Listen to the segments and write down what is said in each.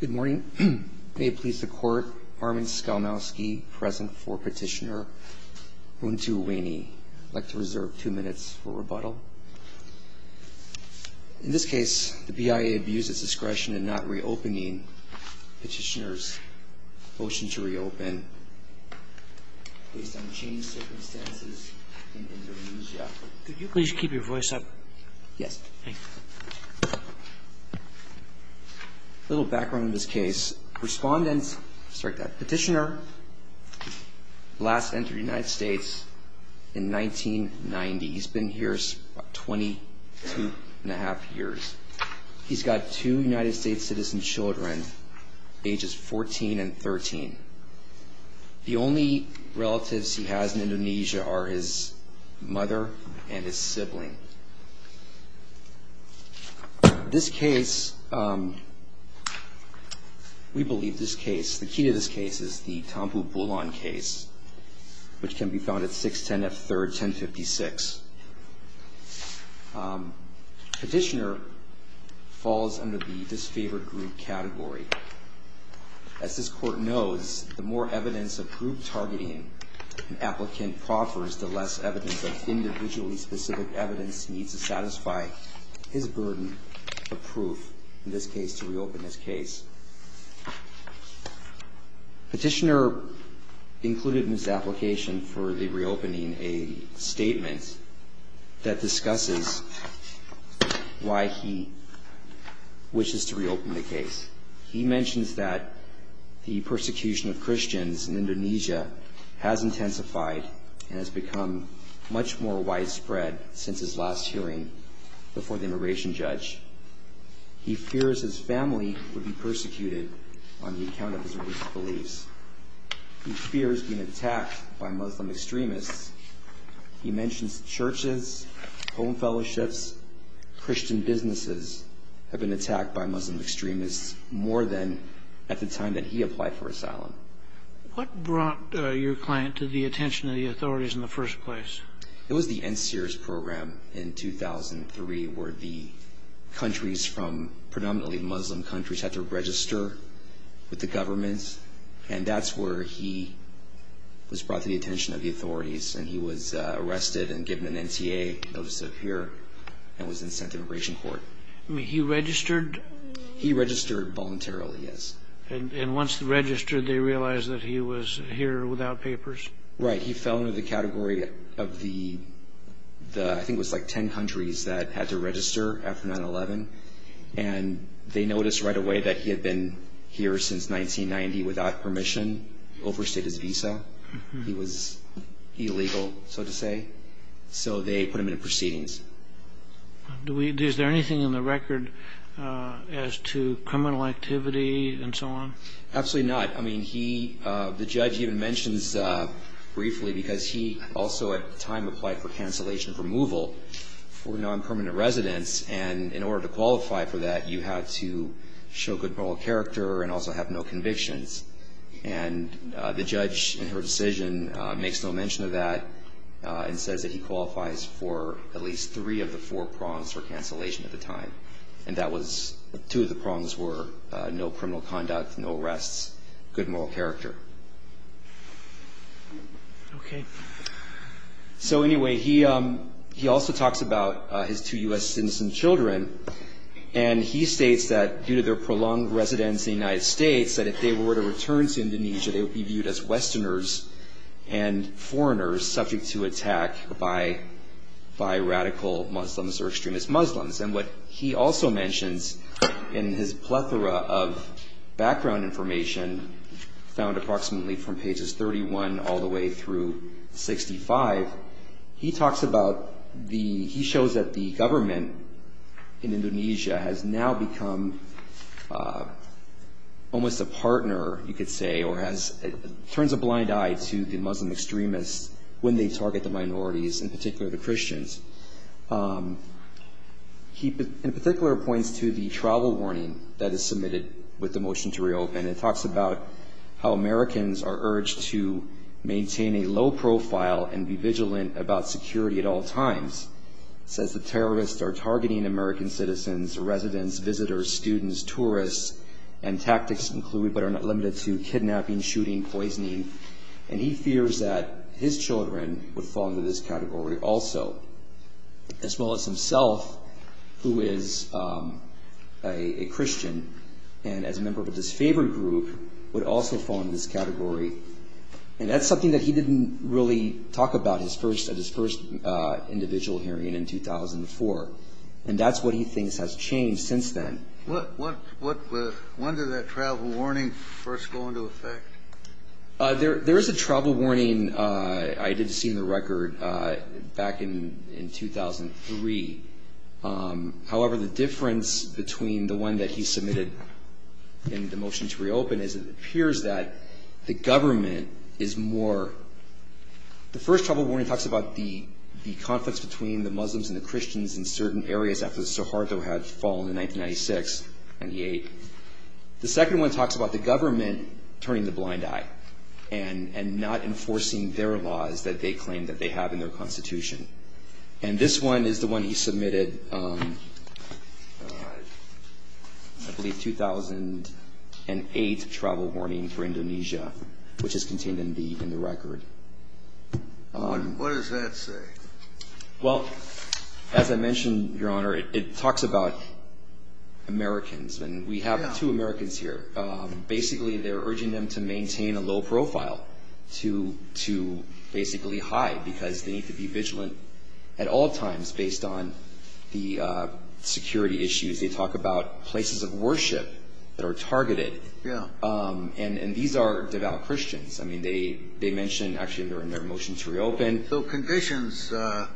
Good morning. May it please the Court, Armin Skalmowski present for Petitioner Runtuwene. I'd like to reserve two minutes for rebuttal. In this case, the BIA abused its discretion in not reopening Petitioner's motion to reopen based on changed circumstances in Indonesia. Could you please keep your voice up? Yes. Thanks. A little background on this case. Respondent, sorry, Petitioner last entered the United States in 1990. He's been here about 22 and a half years. He's got two United States citizen children, ages 14 and 13. The only relatives he has in Indonesia are his mother and his sibling. This case, we believe this case, the key to this case is the Tampu Bulon case, which can be found at 610 F. 3rd, 1056. Petitioner falls under the disfavored group category. As this Court knows, the more evidence of group targeting an applicant proffers, the less evidence of individually specific evidence needs to satisfy his burden of proof, in this case, to reopen this case. Petitioner included in his application for the reopening a statement that discusses why he wishes to reopen the case. He mentions that the persecution of Christians in Indonesia has intensified and has become much more widespread since his last hearing before the immigration judge. He fears his family would be persecuted on the account of his religious beliefs. He fears being attacked by Muslim extremists. He mentions churches, home fellowships, Christian businesses have been attacked by Muslim extremists more than at the time that he applied for asylum. What brought your client to the attention of the authorities in the first place? It was the NCERS program in 2003, where the countries from predominantly Muslim countries had to register with the government. And that's where he was brought to the attention of the authorities. And he was arrested and given an NCA notice of appearance and was then sent to immigration court. He registered? He registered voluntarily, yes. And once registered, they realized that he was here without papers? Right, he fell into the category of the, I think it was like 10 countries that had to register after 9-11. And they noticed right away that he had been here since 1990 without permission, overstayed his visa. He was illegal, so to say. So they put him in proceedings. Is there anything in the record as to criminal activity and so on? Absolutely not. I mean, he, the judge even mentions briefly because he also at the time applied for cancellation of removal for non-permanent residence. And in order to qualify for that, you had to show good moral character and also have no convictions. And the judge in her decision makes no mention of that and says that he qualifies for at least three of the four prongs for cancellation at the time. And that was, two of the prongs were no criminal conduct, no arrests, good moral character. Okay. So anyway, he also talks about his two U.S. citizen children. And he states that due to their prolonged residence in the United States, that if they were to return to Indonesia, they would be viewed as Westerners and foreigners subject to attack by radical Muslims or extremist Muslims. And what he also mentions in his plethora of background information found approximately from pages 31 all the way through 65, he talks about the, he shows that the government in Indonesia has now become almost a partner, you could say, or has, turns a blind eye to the Muslim extremists when they target the minorities, in particular the Christians. He in particular points to the travel warning that is submitted with the motion to reopen. It talks about how Americans are urged to maintain a low profile and be vigilant about security at all times. It says that terrorists are targeting American citizens, residents, visitors, students, tourists, and tactics included, but are not limited to kidnapping, shooting, poisoning. And he fears that his children would fall into this category also, as well as himself, who is a Christian, and as a member of a disfavored group, would also fall into this category. And that's something that he didn't really talk about at his first individual hearing in 2004. And that's what he thinks has changed since then. When did that travel warning first go into effect? There is a travel warning I did see in the record back in 2003. However, the difference between the one that he submitted and the motion to reopen is it appears that the government is more, the first travel warning talks about the conflicts between the Muslims and the Christians in certain areas after Suharto had fallen in 1996 and he ate. The second one talks about the government turning a blind eye and not enforcing their laws that they claim that they have in their constitution. And this one is the one he submitted, I believe 2008 travel warning for Indonesia, which is contained in the record. What does that say? Well, as I mentioned, Your Honor, it talks about Americans. And we have two Americans here. Basically, they're urging them to maintain a low profile, to basically hide, because they need to be vigilant at all times based on the security issues. They talk about places of worship that are targeted. Yeah. And these are devout Christians. I mean, they mention actually in their motion to reopen. So conditions aren't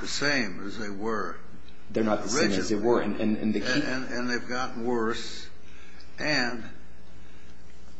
the same as they were originally. They're not the same as they were. And they've gotten worse. And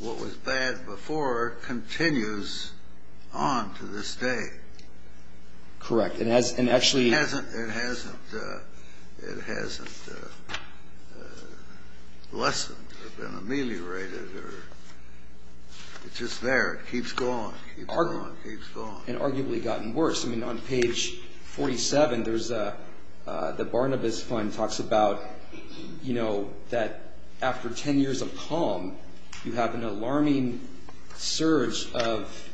what was bad before continues on to this day. Correct. And actually it hasn't lessened or been ameliorated. It's just there. It keeps going. And arguably gotten worse. I mean, on page 47, the Barnabas Fund talks about, you know, that after 10 years of calm, you have an alarming surge of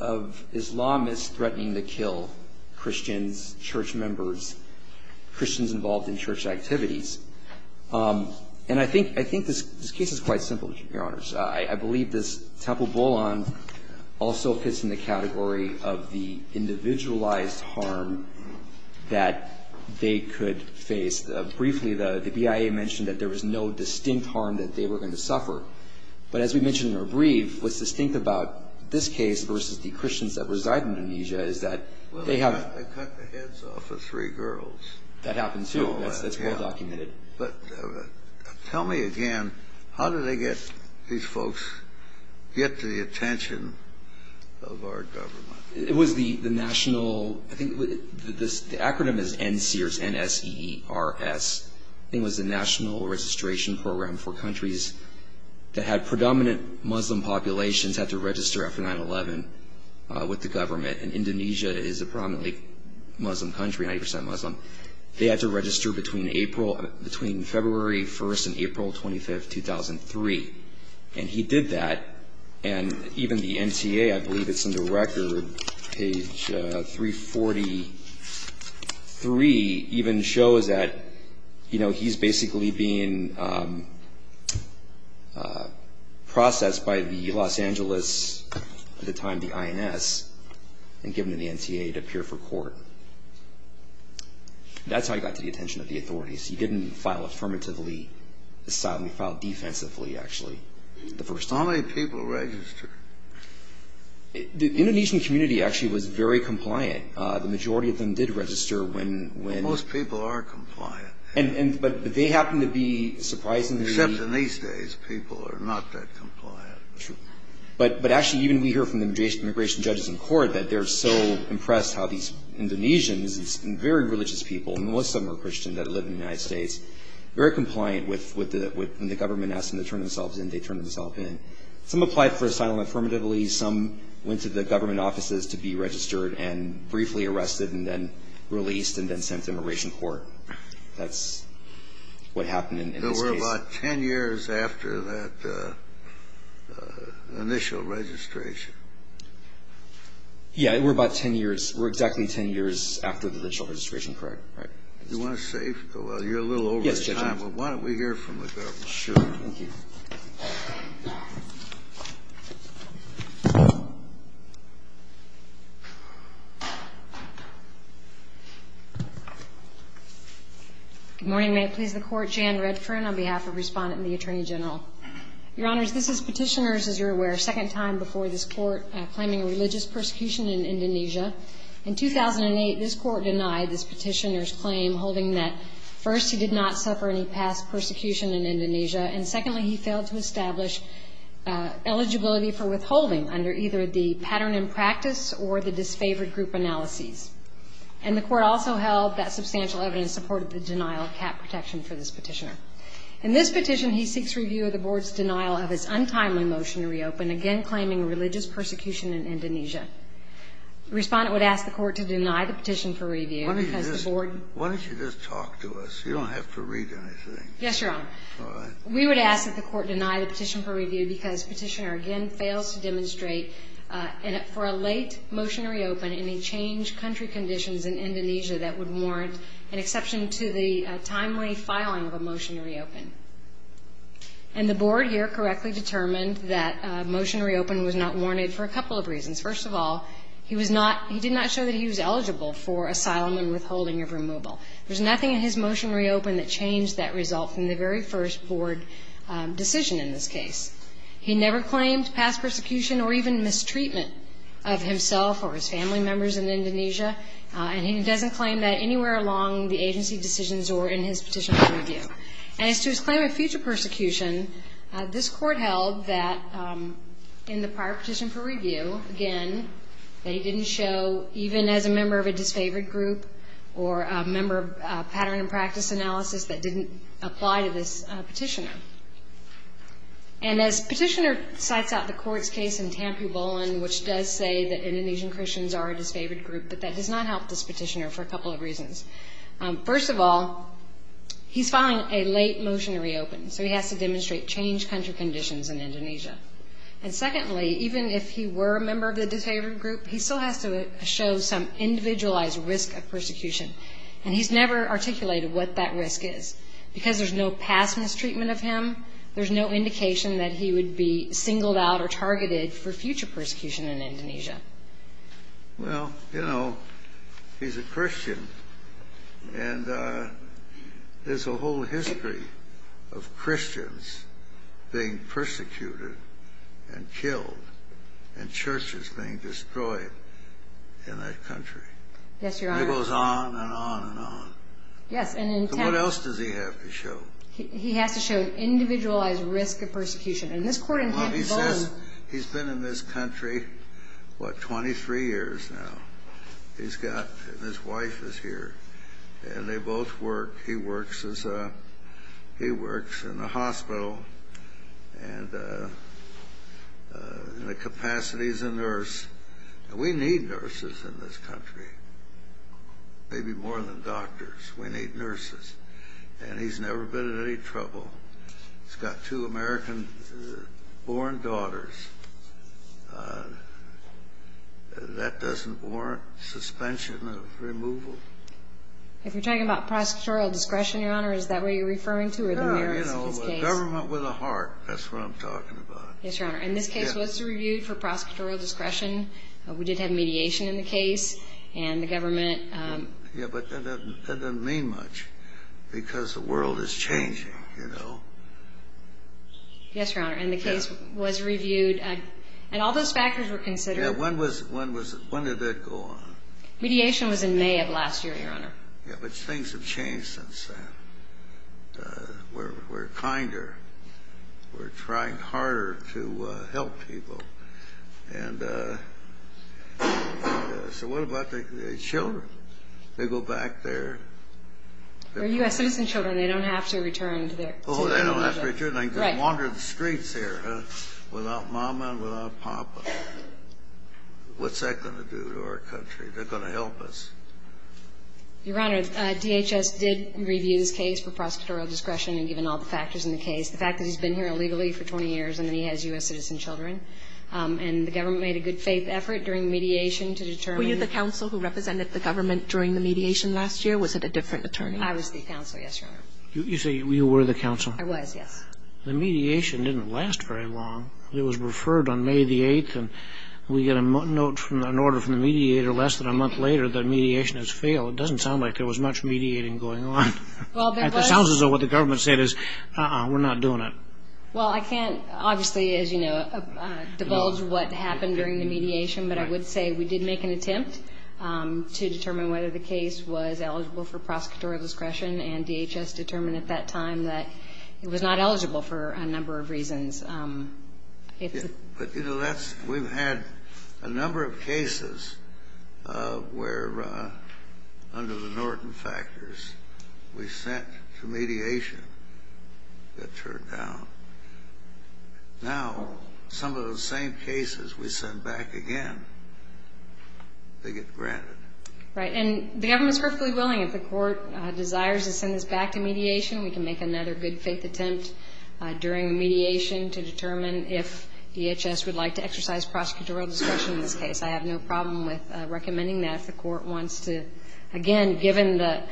Islamists threatening to kill Christians, church members, Christians involved in church activities. And I think this case is quite simple, Your Honors. I believe this Temple Bolan also fits in the category of the individualized harm that they could face. Briefly, the BIA mentioned that there was no distinct harm that they were going to suffer. But as we mentioned in our brief, what's distinct about this case versus the Christians that reside in Indonesia is that they have to cut the heads off of three girls. That happens, too. That's well documented. But tell me again, how did they get these folks get to the attention of our government? It was the national ‑‑ I think the acronym is NSEERS, N-S-E-E-R-S. I think it was the National Registration Program for countries that had predominant Muslim populations had to register after 9-11 with the government. And Indonesia is a prominently Muslim country, 90 percent Muslim. They had to register between April ‑‑ between February 1st and April 25th, 2003. And he did that. And even the NTA, I believe it's in the record, page 343, even shows that he's basically being processed by the Los Angeles, at the time the INS, and given to the NTA to appear for court. That's how he got to the attention of the authorities. He didn't file affirmatively. He filed defensively, actually, the first time. How many people registered? The Indonesian community actually was very compliant. The majority of them did register when ‑‑ Most people are compliant. But they happen to be surprisingly ‑‑ Except in these days, people are not that compliant. True. But actually, even we hear from the immigration judges in court that they're so impressed how these Indonesians, these very religious people, and most of them are Christian, that live in the United States, very compliant with when the government asks them to turn themselves in, they turn themselves in. Some applied for asylum affirmatively. Some went to the government offices to be registered and briefly arrested and then released and then sent to immigration court. That's what happened in this case. We're about 10 years after that initial registration. Yeah. We're about 10 years. We're exactly 10 years after the initial registration. Correct? Right. Do you want to save? You're a little over time. Yes, Judge. Why don't we hear from the government? Sure. Thank you. Good morning. May it please the Court. Jan Redfern on behalf of Respondent and the Attorney General. Your Honors, this is Petitioner's, as you're aware, second time before this Court claiming a religious persecution in Indonesia. In 2008, this Court denied this Petitioner's claim, holding that, first, he did not suffer any past persecution in Indonesia, eligibility for withholding under either the pattern in practice or the disfavored group analyses. And the Court also held that substantial evidence supported the denial of cap protection for this Petitioner. In this petition, he seeks review of the Board's denial of his untimely motion to reopen, again claiming religious persecution in Indonesia. The Respondent would ask the Court to deny the petition for review because the Board Why don't you just talk to us? You don't have to read anything. Yes, Your Honor. All right. We would ask that the Court deny the petition for review because Petitioner, again, fails to demonstrate for a late motion to reopen any changed country conditions in Indonesia that would warrant an exception to the timely filing of a motion to reopen. And the Board here correctly determined that a motion to reopen was not warranted for a couple of reasons. First of all, he did not show that he was eligible for asylum and withholding of removal. There's nothing in his motion to reopen that changed that result from the very first Board decision in this case. He never claimed past persecution or even mistreatment of himself or his family members in Indonesia. And he doesn't claim that anywhere along the agency decisions or in his petition for review. As to his claim of future persecution, this Court held that in the prior petition for review, again, that he didn't show even as a member of a disfavored group or a member of pattern and practice analysis that didn't apply to this petitioner. And as Petitioner cites out the Court's case in Tampu Bolon, which does say that Indonesian Christians are a disfavored group, but that does not help this petitioner for a couple of reasons. First of all, he's filing a late motion to reopen, so he has to demonstrate changed country conditions in Indonesia. And secondly, even if he were a member of the disfavored group, he still has to show some individualized risk of persecution. And he's never articulated what that risk is. Because there's no past mistreatment of him, there's no indication that he would be singled out or targeted for future persecution in Indonesia. Well, you know, he's a Christian, and there's a whole history of Christians being persecuted and killed and churches being destroyed in that country. Yes, Your Honor. And it goes on and on and on. Yes, and in Tampu. So what else does he have to show? He has to show an individualized risk of persecution. And this Court in Tampu Bolon. Well, he says he's been in this country, what, 23 years now. He's got his wife is here, and they both work. He works in a hospital, and the capacity is a nurse. And we need nurses in this country, maybe more than doctors. We need nurses. And he's never been in any trouble. He's got two American-born daughters. That doesn't warrant suspension of removal. If you're talking about prosecutorial discretion, Your Honor, is that what you're referring to or the merits of his case? No, you know, government with a heart. That's what I'm talking about. Yes, Your Honor. And this case was reviewed for prosecutorial discretion. We did have mediation in the case, and the government. Yeah, but that doesn't mean much because the world is changing, you know. Yes, Your Honor, and the case was reviewed. And all those factors were considered. Yeah, when did that go on? Mediation was in May of last year, Your Honor. Yeah, but things have changed since then. We're kinder. We're trying harder to help people. And so what about the children? They go back there. They're U.S. citizen children. They don't have to return to their city. Oh, they don't have to return. They can wander the streets here without mama and without papa. What's that going to do to our country? They're going to help us. Your Honor, DHS did review this case for prosecutorial discretion, and given all the factors in the case, the fact that he's been here illegally for 20 years and that he has U.S. citizen children. And the government made a good faith effort during mediation to determine. Were you the counsel who represented the government during the mediation last year? Was it a different attorney? I was the counsel, yes, Your Honor. You say you were the counsel? I was, yes. The mediation didn't last very long. It was referred on May the 8th, and we get a note from an order from the mediator less than a month later that mediation has failed. It doesn't sound like there was much mediating going on. It sounds as though what the government said is, uh-uh, we're not doing it. Well, I can't obviously, as you know, divulge what happened during the mediation, but I would say we did make an attempt to determine whether the case was eligible for prosecutorial discretion, and DHS determined at that time that it was not eligible for a number of reasons. But, you know, we've had a number of cases where, under the Norton factors, we sent to mediation, got turned down. Now some of those same cases we send back again, they get granted. Right. And the government is perfectly willing, if the court desires to send this back to mediation, we can make another good-faith attempt during mediation to determine if DHS would like to exercise prosecutorial discretion in this case. I have no problem with recommending that if the court wants to. Again, given that,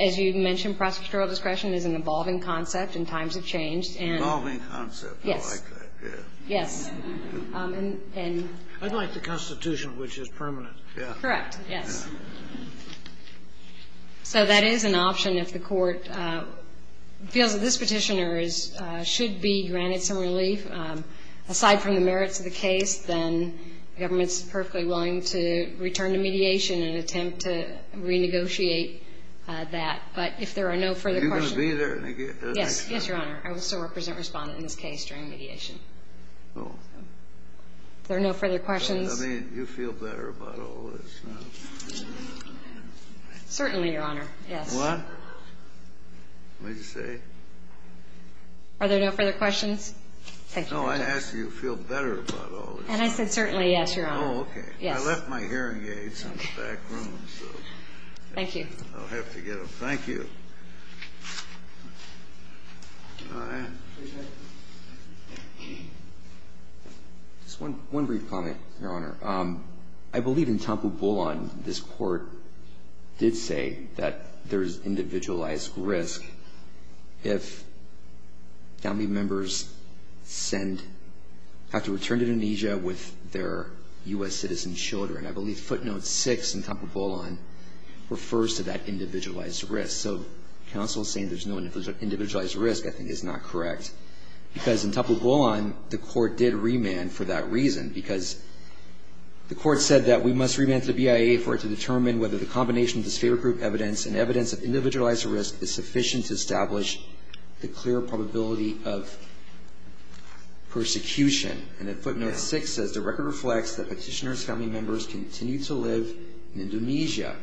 as you mentioned, prosecutorial discretion is an evolving concept and times have changed. Evolving concept. Yes. I like that. Yes. I like the Constitution, which is permanent. Correct. Yes. So that is an option if the court feels that this Petitioner should be granted some relief. Aside from the merits of the case, then the government is perfectly willing to return to mediation and attempt to renegotiate that. But if there are no further questions. Are you going to be there? Yes. Yes, Your Honor. I will still represent Respondent in this case during mediation. Oh. If there are no further questions. I mean, do you feel better about all this now? Certainly, Your Honor. Yes. What? What did you say? Are there no further questions? No, I asked do you feel better about all this. And I said certainly, yes, Your Honor. Oh, okay. Yes. I left my hearing aids in the back room, so. Thank you. I'll have to get them. Thank you. All right. Just one brief comment, Your Honor. I believe in Tampul Bolon this Court did say that there is individualized risk if family members send, have to return to Indonesia with their U.S. citizen children. I believe footnote six in Tampul Bolon refers to that individualized risk. So counsel saying there's no individualized risk I think is not correct. Because in Tampul Bolon, the Court did remand for that reason. Because the Court said that we must remand to the BIA for it to determine whether the combination of this favor group evidence and evidence of individualized risk is sufficient to establish the clear probability of persecution. And then footnote six says the record reflects that petitioner's family members continue to live in Indonesia,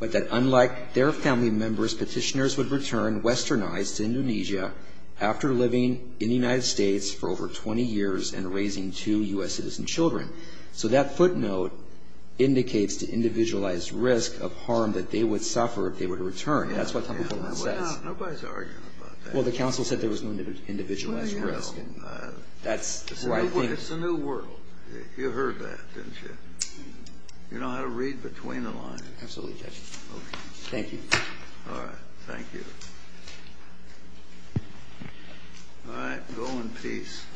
but that unlike their family members, petitioners would return westernized to Indonesia after living in the United States for over 20 years and raising two U.S. citizen children. So that footnote indicates to individualized risk of harm that they would suffer if they were to return. That's what Tampul Bolon says. Nobody's arguing about that. Well, the counsel said there was no individualized risk. Well, anyhow, it's a new world. You heard that, didn't you? You know how to read between the lines. Absolutely, Judge. Thank you. All right. Thank you. All right. Go in peace.